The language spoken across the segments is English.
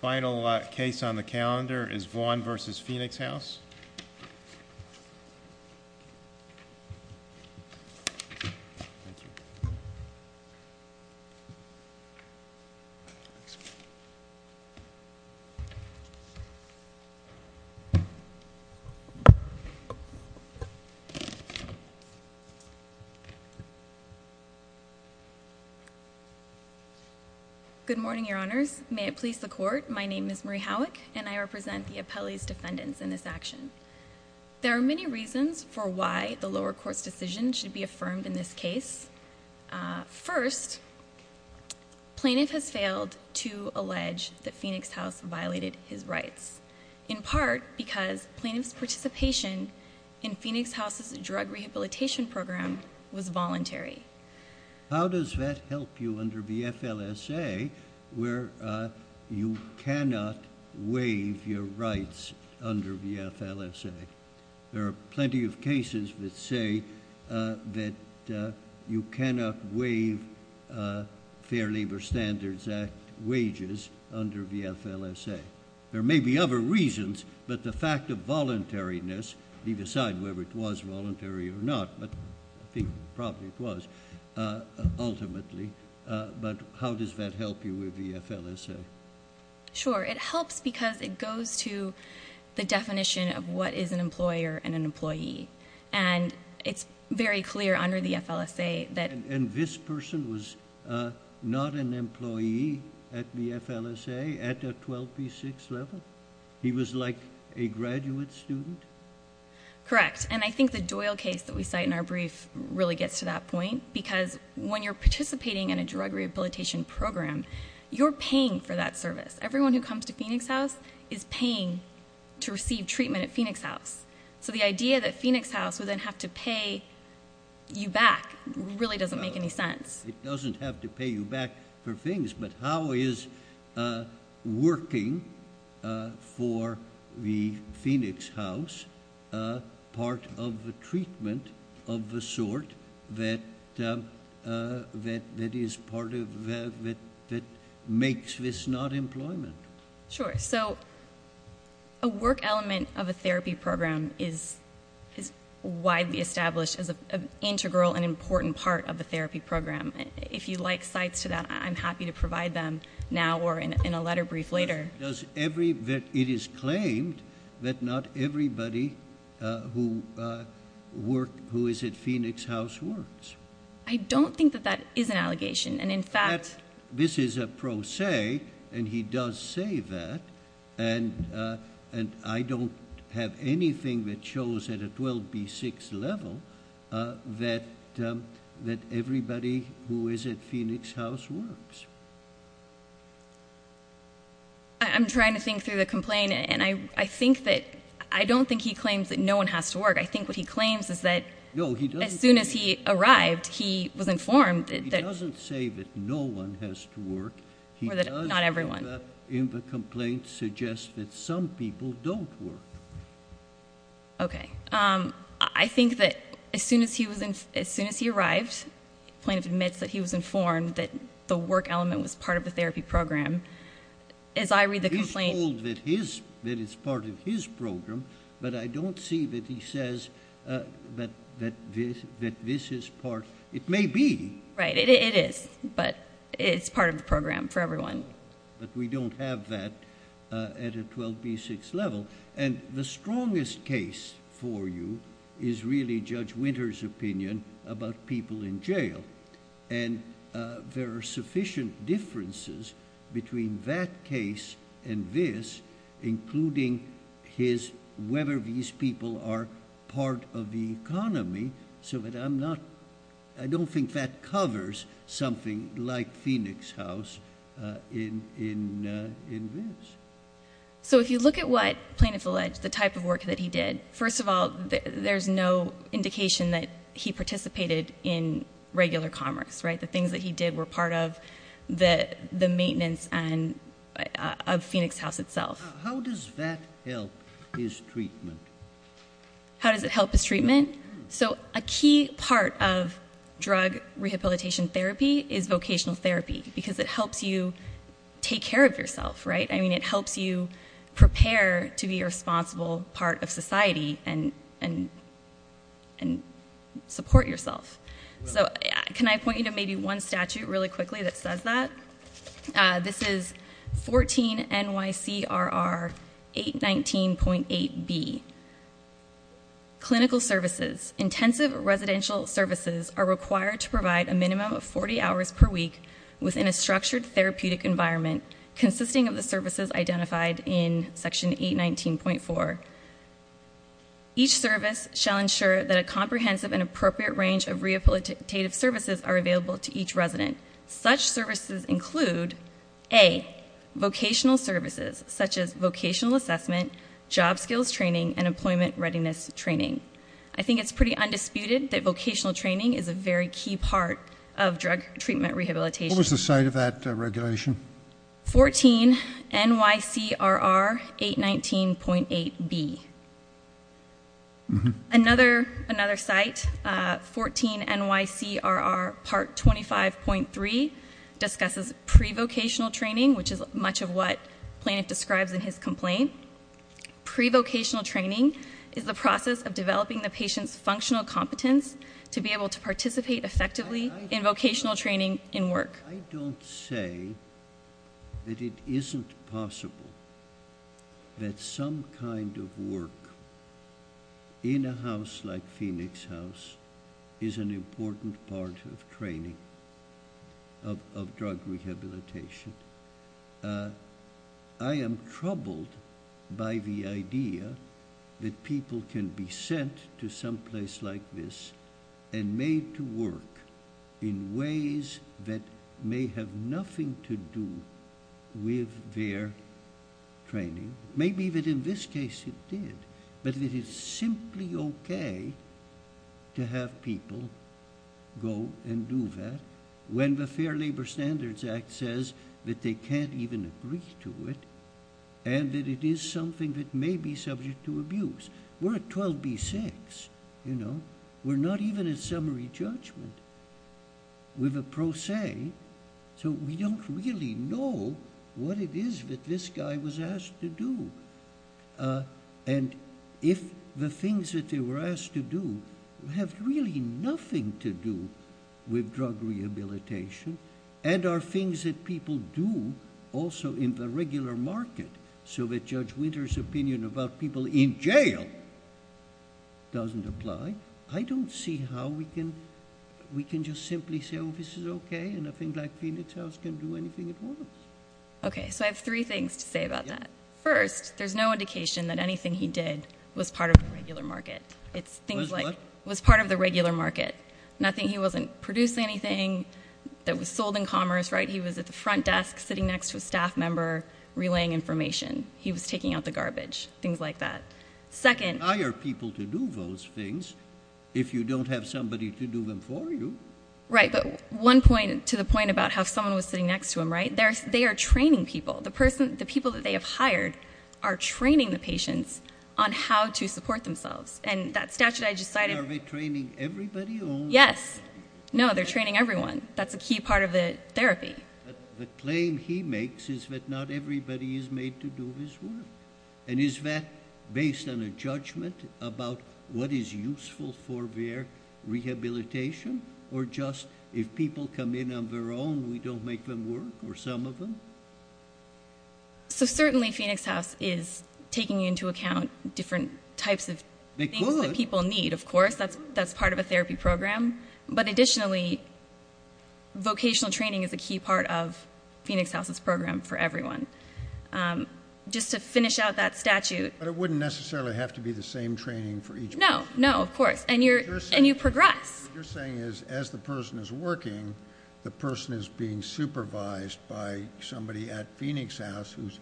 Final case on the calendar is Vaughn v. Phoenix House Good morning, your honors. May it please the court, my name is Marie Howick and I represent the appellee's defendants in this action. There are many reasons for why the lower court's decision should be affirmed in this case. First, plaintiff has failed to allege that Phoenix House violated his rights, in part because plaintiff's participation in Phoenix House's drug rehabilitation program was voluntary. How does that help you under the FLSA where you cannot waive your rights under the FLSA? There are plenty of cases that say that you cannot waive Fair Labor Standards Act wages under the FLSA. There may be other reasons, but the fact of voluntariness, leave aside whether it was voluntary or not, but I think probably it was, ultimately, but how does that help you with the FLSA? Sure, it helps because it goes to the definition of what is an employer and an employee, and it's very clear under the FLSA that... And this person was not an employee at the FLSA at the 12B6 level? He was like a graduate student? Correct, and I think the Doyle case that we cite in our brief really gets to that point because when you're participating in a drug rehabilitation program, you're paying for that service. Everyone who comes to Phoenix House is paying to receive treatment at Phoenix House, so the idea that Phoenix House would then have to pay you back really doesn't make any sense. It doesn't have to pay you back for things, but how is working for the Phoenix House part of the treatment of the sort that makes this not employment? Sure, so a work element of a therapy program is widely established as an integral and important part of a therapy program. If you'd like cites to that, I'm happy to provide them now or in a letter brief later. It is claimed that not everybody who is at Phoenix House works. I don't think that that is an allegation, and in fact... This is a pro se, and he does say that, and I don't have anything that shows at a 12B6 level that everybody who is at Phoenix House works. I'm trying to think through the complaint, and I think that... I don't think he claims that no one has to work. I think what he claims is that as soon as he arrived, he was informed that... He doesn't say that no one has to work. Or that not everyone. In the complaint suggests that some people don't work. Okay. I think that as soon as he arrived, the plaintiff admits that he was informed that the work element was part of the therapy program. As I read the complaint... He's told that it's part of his program, but I don't see that he says that this is part... It may be. Right. It is, but it's part of the program for everyone. We don't have that at a 12B6 level. The strongest case for you is really Judge Winter's opinion about people in jail, and there are sufficient differences between that case and this, including his... Whether these people are part of the economy so that I'm not... I don't think that he's part of the economy in this. So if you look at what plaintiff alleged, the type of work that he did, first of all, there's no indication that he participated in regular commerce, right? The things that he did were part of the maintenance of Phoenix House itself. How does that help his treatment? How does it help his treatment? So a key part of drug rehabilitation therapy is vocational therapy because it helps you take care of yourself, right? I mean, it helps you prepare to be a responsible part of society and support yourself. So can I point you to maybe one statute really quickly that says that? This is 14 NYCRR 819.8B. Clinical services. Intensive residential services are required to provide a minimum of 40 hours per week within a structured therapeutic environment consisting of the services identified in Section 819.4. Each service shall ensure that a comprehensive and appropriate range of rehabilitative services are available to each resident. Such services include, A, vocational services such as vocational assessment, job skills training, and employment of drug treatment rehabilitation. What was the site of that regulation? 14 NYCRR 819.8B. Another site, 14 NYCRR Part 25.3, discusses pre-vocational training, which is much of what Planoff describes in his complaint. Pre-vocational training is the process of vocational training in work. I don't say that it isn't possible that some kind of work in a house like Phoenix House is an important part of training of drug rehabilitation. I am troubled by the idea that people can be sent to some place like this and made to work in ways that may have nothing to do with their training. Maybe that in this case it did, but it is simply okay to have people go and do that when the Fair Labor Standards Act says that they can't even agree to it and that it is something that may be subject to abuse. We're at 12B.6. We're not even at summary judgment with a pro se, so we don't really know what it is that this guy was asked to do. If the things that they were asked to do have really nothing to do with drug rehabilitation, I don't see how we can just simply say, oh, this is okay, and a thing like Phoenix House can do anything it wants. Okay, so I have three things to say about that. First, there's no indication that anything he did was part of the regular market. It was part of the regular market. He wasn't producing anything that was sold in commerce. He was at the front desk sitting next to a staff member relaying information. He was taking out the garbage, things like that. Second- Hire people to do those things if you don't have somebody to do them for you. Right, but one point to the point about how someone was sitting next to him, right? They are training people. The people that they have hired are training the patients on how to support themselves, and that statute I just cited- Are they training everybody or- Yes. No, they're training everyone. That's a key part of the therapy. The claim he makes is that not everybody is made to do his work, and is that based on a judgment about what is useful for their rehabilitation, or just if people come in on their own, we don't make them work, or some of them? So certainly Phoenix House is taking into account different types of things that people need, of course. That's part of a therapy program, but additionally, vocational training is a key part of Phoenix House's program for everyone. Just to finish out that statute- But it wouldn't necessarily have to be the same training for each person. No. No, of course, and you progress. What you're saying is, as the person is working, the person is being supervised by somebody at Phoenix House who's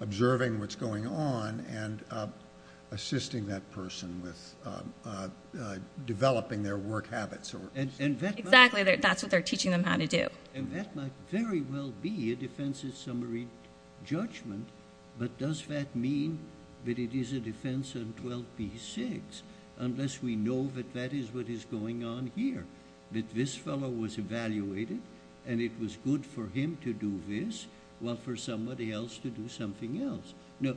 observing what's going on, and assisting that person with developing their work habits. Exactly. That's what they're teaching them how to do. And that might very well be a defense in summary judgment, but does that mean that it is a defense in 12b-6, unless we know that that is what is going on here, that this fellow was evaluated, and it was good for him to do this, while for somebody else to do something else. Now,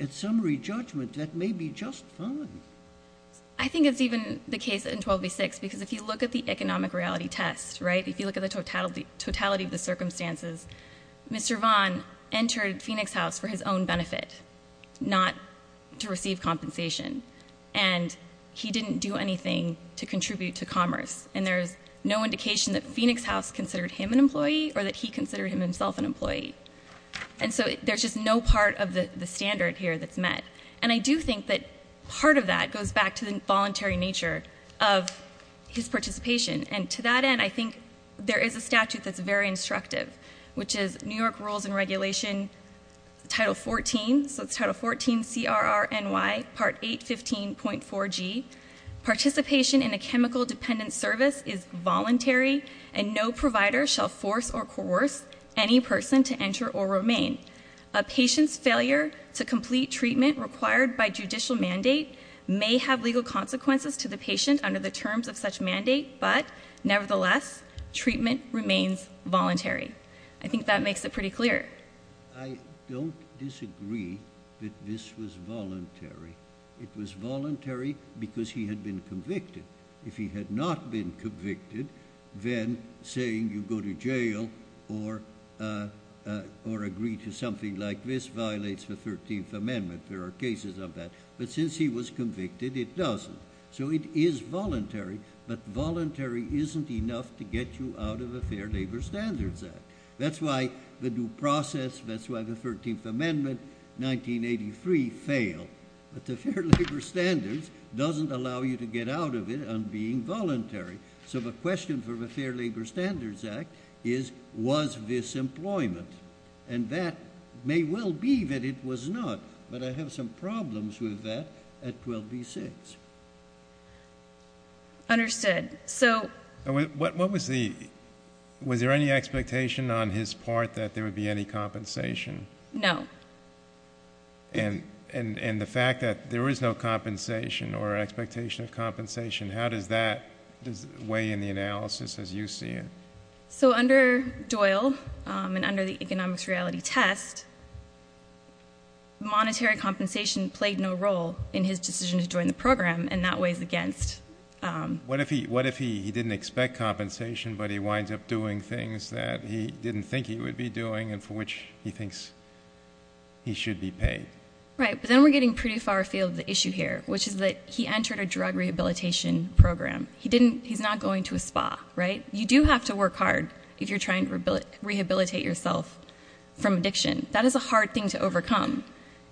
at summary judgment, that may be just fine. I think it's even the case in 12b-6, because if you look at the economic reality test, right, if you look at the totality of the circumstances, Mr. Vaughn entered Phoenix House for his own benefit, not to receive compensation, and he didn't do anything to contribute to commerce, and there's no indication that Phoenix House considered him an employee or that he considered himself an employee. And so there's just no part of the standard here that's met. And I do think that part of that goes back to the voluntary nature of his participation, and to that end, I think there is a statute that's very instructive, which is New York Rules and Regulation, Title 14, so it's Title 14, CRRNY, Part 815.4G. Participation in a chemical-dependent service is voluntary, and no provider shall force or coerce any person to enter or remain. A patient's failure to complete treatment required by judicial mandate may have legal consequences to the patient under the terms of such mandate, but nevertheless, treatment remains voluntary. I think that makes it pretty clear. I don't disagree that this was voluntary. It was voluntary because he had been convicted. If he had not been convicted, then saying you go to jail or agree to something like this violates the 13th Amendment. There are cases of that. But since he was convicted, it doesn't. So it is voluntary, but voluntary isn't enough to get you out of the Fair Labor Standards Act. That's why the due process, that's why the 13th Amendment, 1983, failed. But the Fair Labor Standards doesn't allow you to get out of it on being voluntary. So the question for the Fair Labor Standards Act is, was this employment? And that may well be that it was not, but I have some problems with that at 12b-6. Understood. Was there any expectation on his part that there would be any compensation? No. And the fact that there is no compensation or expectation of compensation, how does that weigh in the analysis as you see it? So under Doyle and under the economics reality test, monetary compensation played no role in his decision to join the program, and that weighs against... What if he didn't expect compensation, but he winds up doing things that he didn't think he would be doing and for which he thinks he should be paid? Right, but then we're getting pretty far afield with the issue here, which is that he entered a drug rehabilitation program. He's not going to a spa, right? You do have to work hard if you're trying to rehabilitate yourself from addiction. That is a hard thing to overcome,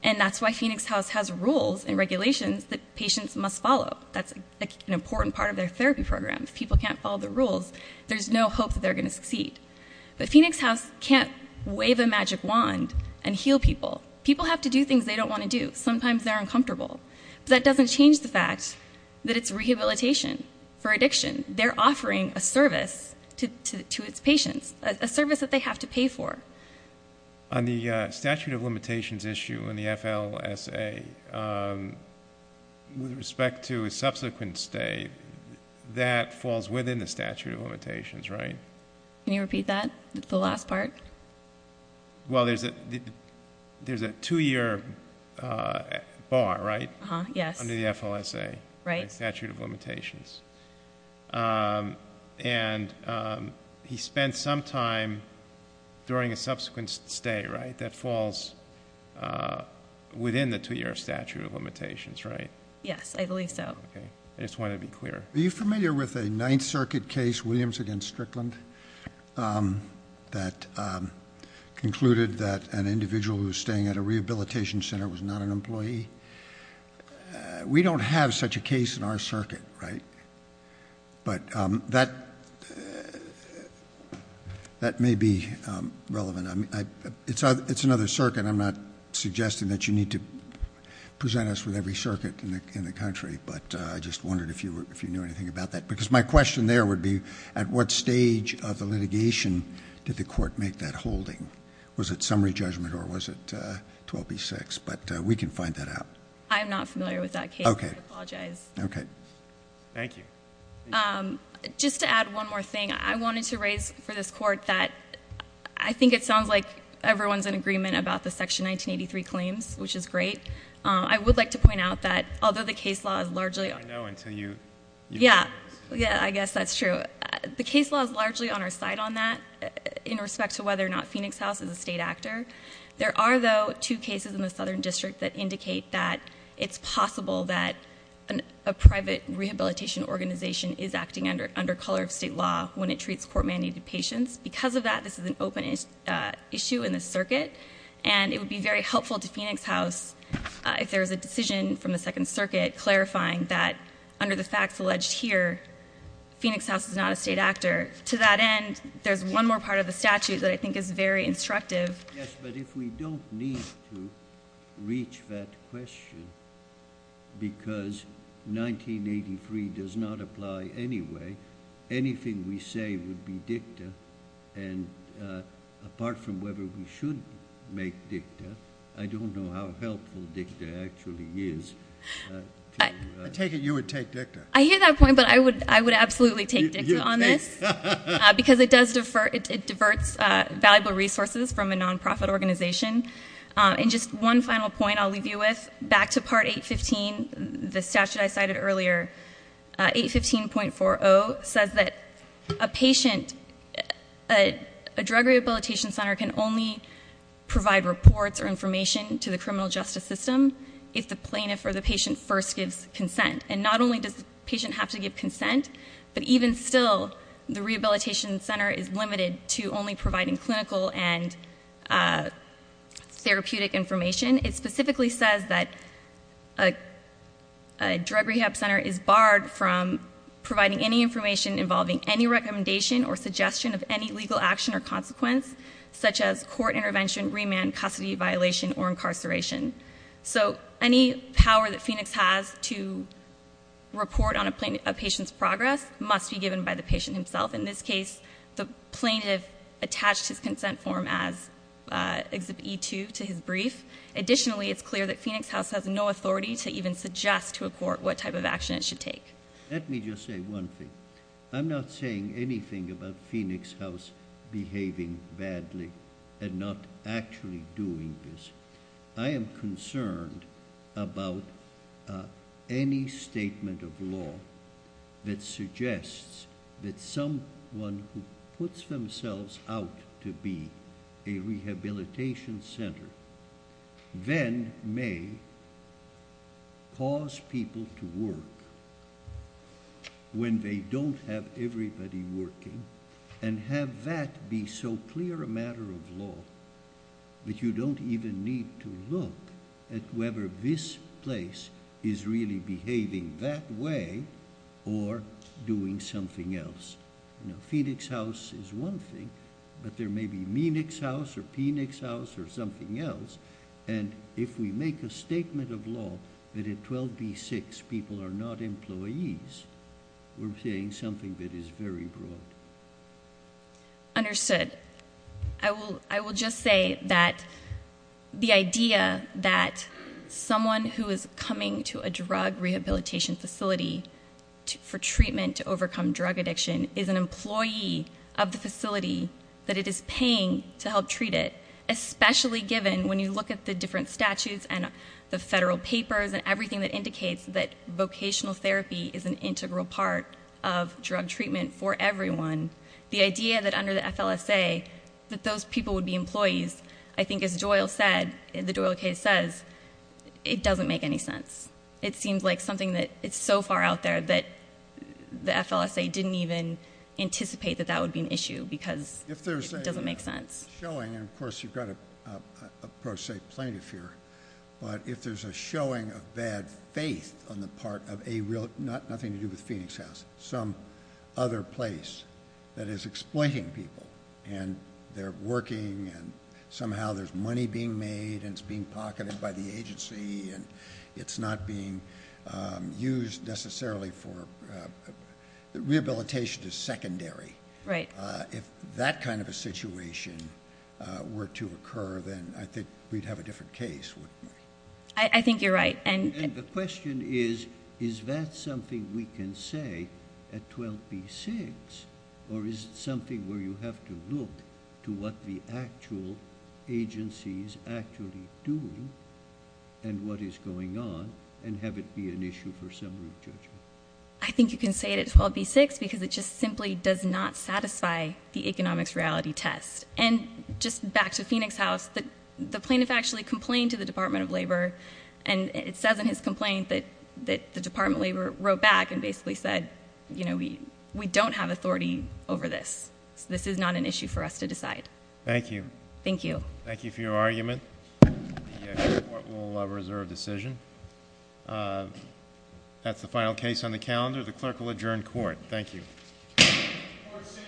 and that's why Phoenix House has rules and regulations that patients must follow. That's an important part of their therapy program. If people can't follow the rules, there's no hope that they're going to succeed. But Phoenix House can't wave a magic wand and heal people. People have to do things they don't want to do. Sometimes they're uncomfortable, but that doesn't change the fact that it's rehabilitation for addiction. They're offering a service to its patients, a service that they have to pay for. On the statute of limitations issue in the FLSA, with respect to a subsequent stay, that falls within the statute of limitations, right? Can you repeat that, the last part? Well, there's a 2-year bar, right? Yes. Under the FLSA. Right. The statute of limitations. And he spent some time during a subsequent stay, right, that falls within the 2-year statute of limitations, right? Yes, I believe so. Okay. I just wanted to be clear. Are you familiar with a Ninth Circuit case, Williams against Strickland, that concluded that an individual who was staying at a rehabilitation center was not an employee? We don't have such a case in our circuit, right? But that may be relevant. It's another circuit. I'm not suggesting that you need to present us with every circuit in the country, but I just wondered if you knew anything about that. Because my question there would be, at what stage of the litigation did the court make that holding? Was it summary judgment or was it 12B-6? But we can find that out. I am not familiar with that case. I apologize. Okay. Thank you. Just to add one more thing, I wanted to raise for this court that I think it sounds like everyone's in agreement about the Section 1983 claims, which is great. I would like to point out that although the case law is largely on the floor, Yeah, I guess that's true. The case law is largely on our side on that in respect to whether or not Phoenix House is a state actor. There are, though, two cases in the Southern District that indicate that it's possible that a private rehabilitation organization is acting under color of state law when it treats court-mandated patients. Because of that, this is an open issue in the circuit, and it would be very helpful to Phoenix House if there was a decision from the Second Circuit clarifying that under the facts alleged here, Phoenix House is not a state actor. To that end, there's one more part of the statute that I think is very instructive. Yes, but if we don't need to reach that question because 1983 does not apply anyway, anything we say would be dicta, and apart from whether we should make dicta, I don't know how helpful dicta actually is. I take it you would take dicta. I hear that point, but I would absolutely take dicta on this, because it diverts valuable resources from a nonprofit organization. And just one final point I'll leave you with, back to Part 815, the statute I cited earlier, 815.40 says that a drug rehabilitation center can only provide reports or information to the criminal justice system if the plaintiff or the patient first gives consent. And not only does the patient have to give consent, but even still, the rehabilitation center is limited to only providing clinical and therapeutic information. It specifically says that a drug rehab center is barred from providing any information involving any recommendation or suggestion of any legal action or consequence, such as court intervention, remand, custody violation, or incarceration. So any power that Phoenix has to report on a patient's progress must be given by the patient himself. In this case, the plaintiff attached his consent form as Exhibit E2 to his brief. Additionally, it's clear that Phoenix House has no authority to even suggest to a court what type of action it should take. Let me just say one thing. I'm not saying anything about Phoenix House behaving badly and not actually doing this. I am concerned about any statement of law that suggests that someone who puts themselves out to be a rehabilitation center then may cause people to work when they don't have everybody working. And have that be so clear a matter of law that you don't even need to look at whether this place is really behaving that way or doing something else. Phoenix House is one thing, but there may be Meenix House or Penix House or something else, and if we make a statement of law that at 12B6 people are not employees, we're saying something that is very broad. Understood. I will just say that the idea that someone who is coming to a drug rehabilitation facility for treatment to overcome drug addiction is an employee of the facility that it is paying to help treat it, especially given when you look at the different statutes and the federal papers and everything that indicates that vocational therapy is an integral part of drug treatment for everyone, the idea that under the FLSA that those people would be employees, I think as the Doyle case says, it doesn't make any sense. It seems like something that is so far out there that the FLSA didn't even anticipate that that would be an issue because it doesn't make sense. If there's a showing, and of course you've got a pro se plaintiff here, but if there's a showing of bad faith on the part of a real, nothing to do with Penix House, some other place that is explaining people and they're working and somehow there's money being made and it's being pocketed by the agency and it's not being used necessarily for, rehabilitation is secondary. If that kind of a situation were to occur, then I think we'd have a different case. I think you're right. And the question is, is that something we can say at 12B6 or is it something where you have to look to what the actual agency is actually doing and what is going on and have it be an issue for summary judgment? I think you can say it at 12B6 because it just simply does not satisfy the economics reality test. And just back to Penix House, the plaintiff actually complained to the Department of Labor and it says in his complaint that the Department of Labor wrote back and basically said, you know, we don't have authority over this. This is not an issue for us to decide. Thank you. Thank you. Thank you for your argument. The court will reserve decision. That's the final case on the calendar. The clerk will adjourn court. Thank you. Court is adjourned.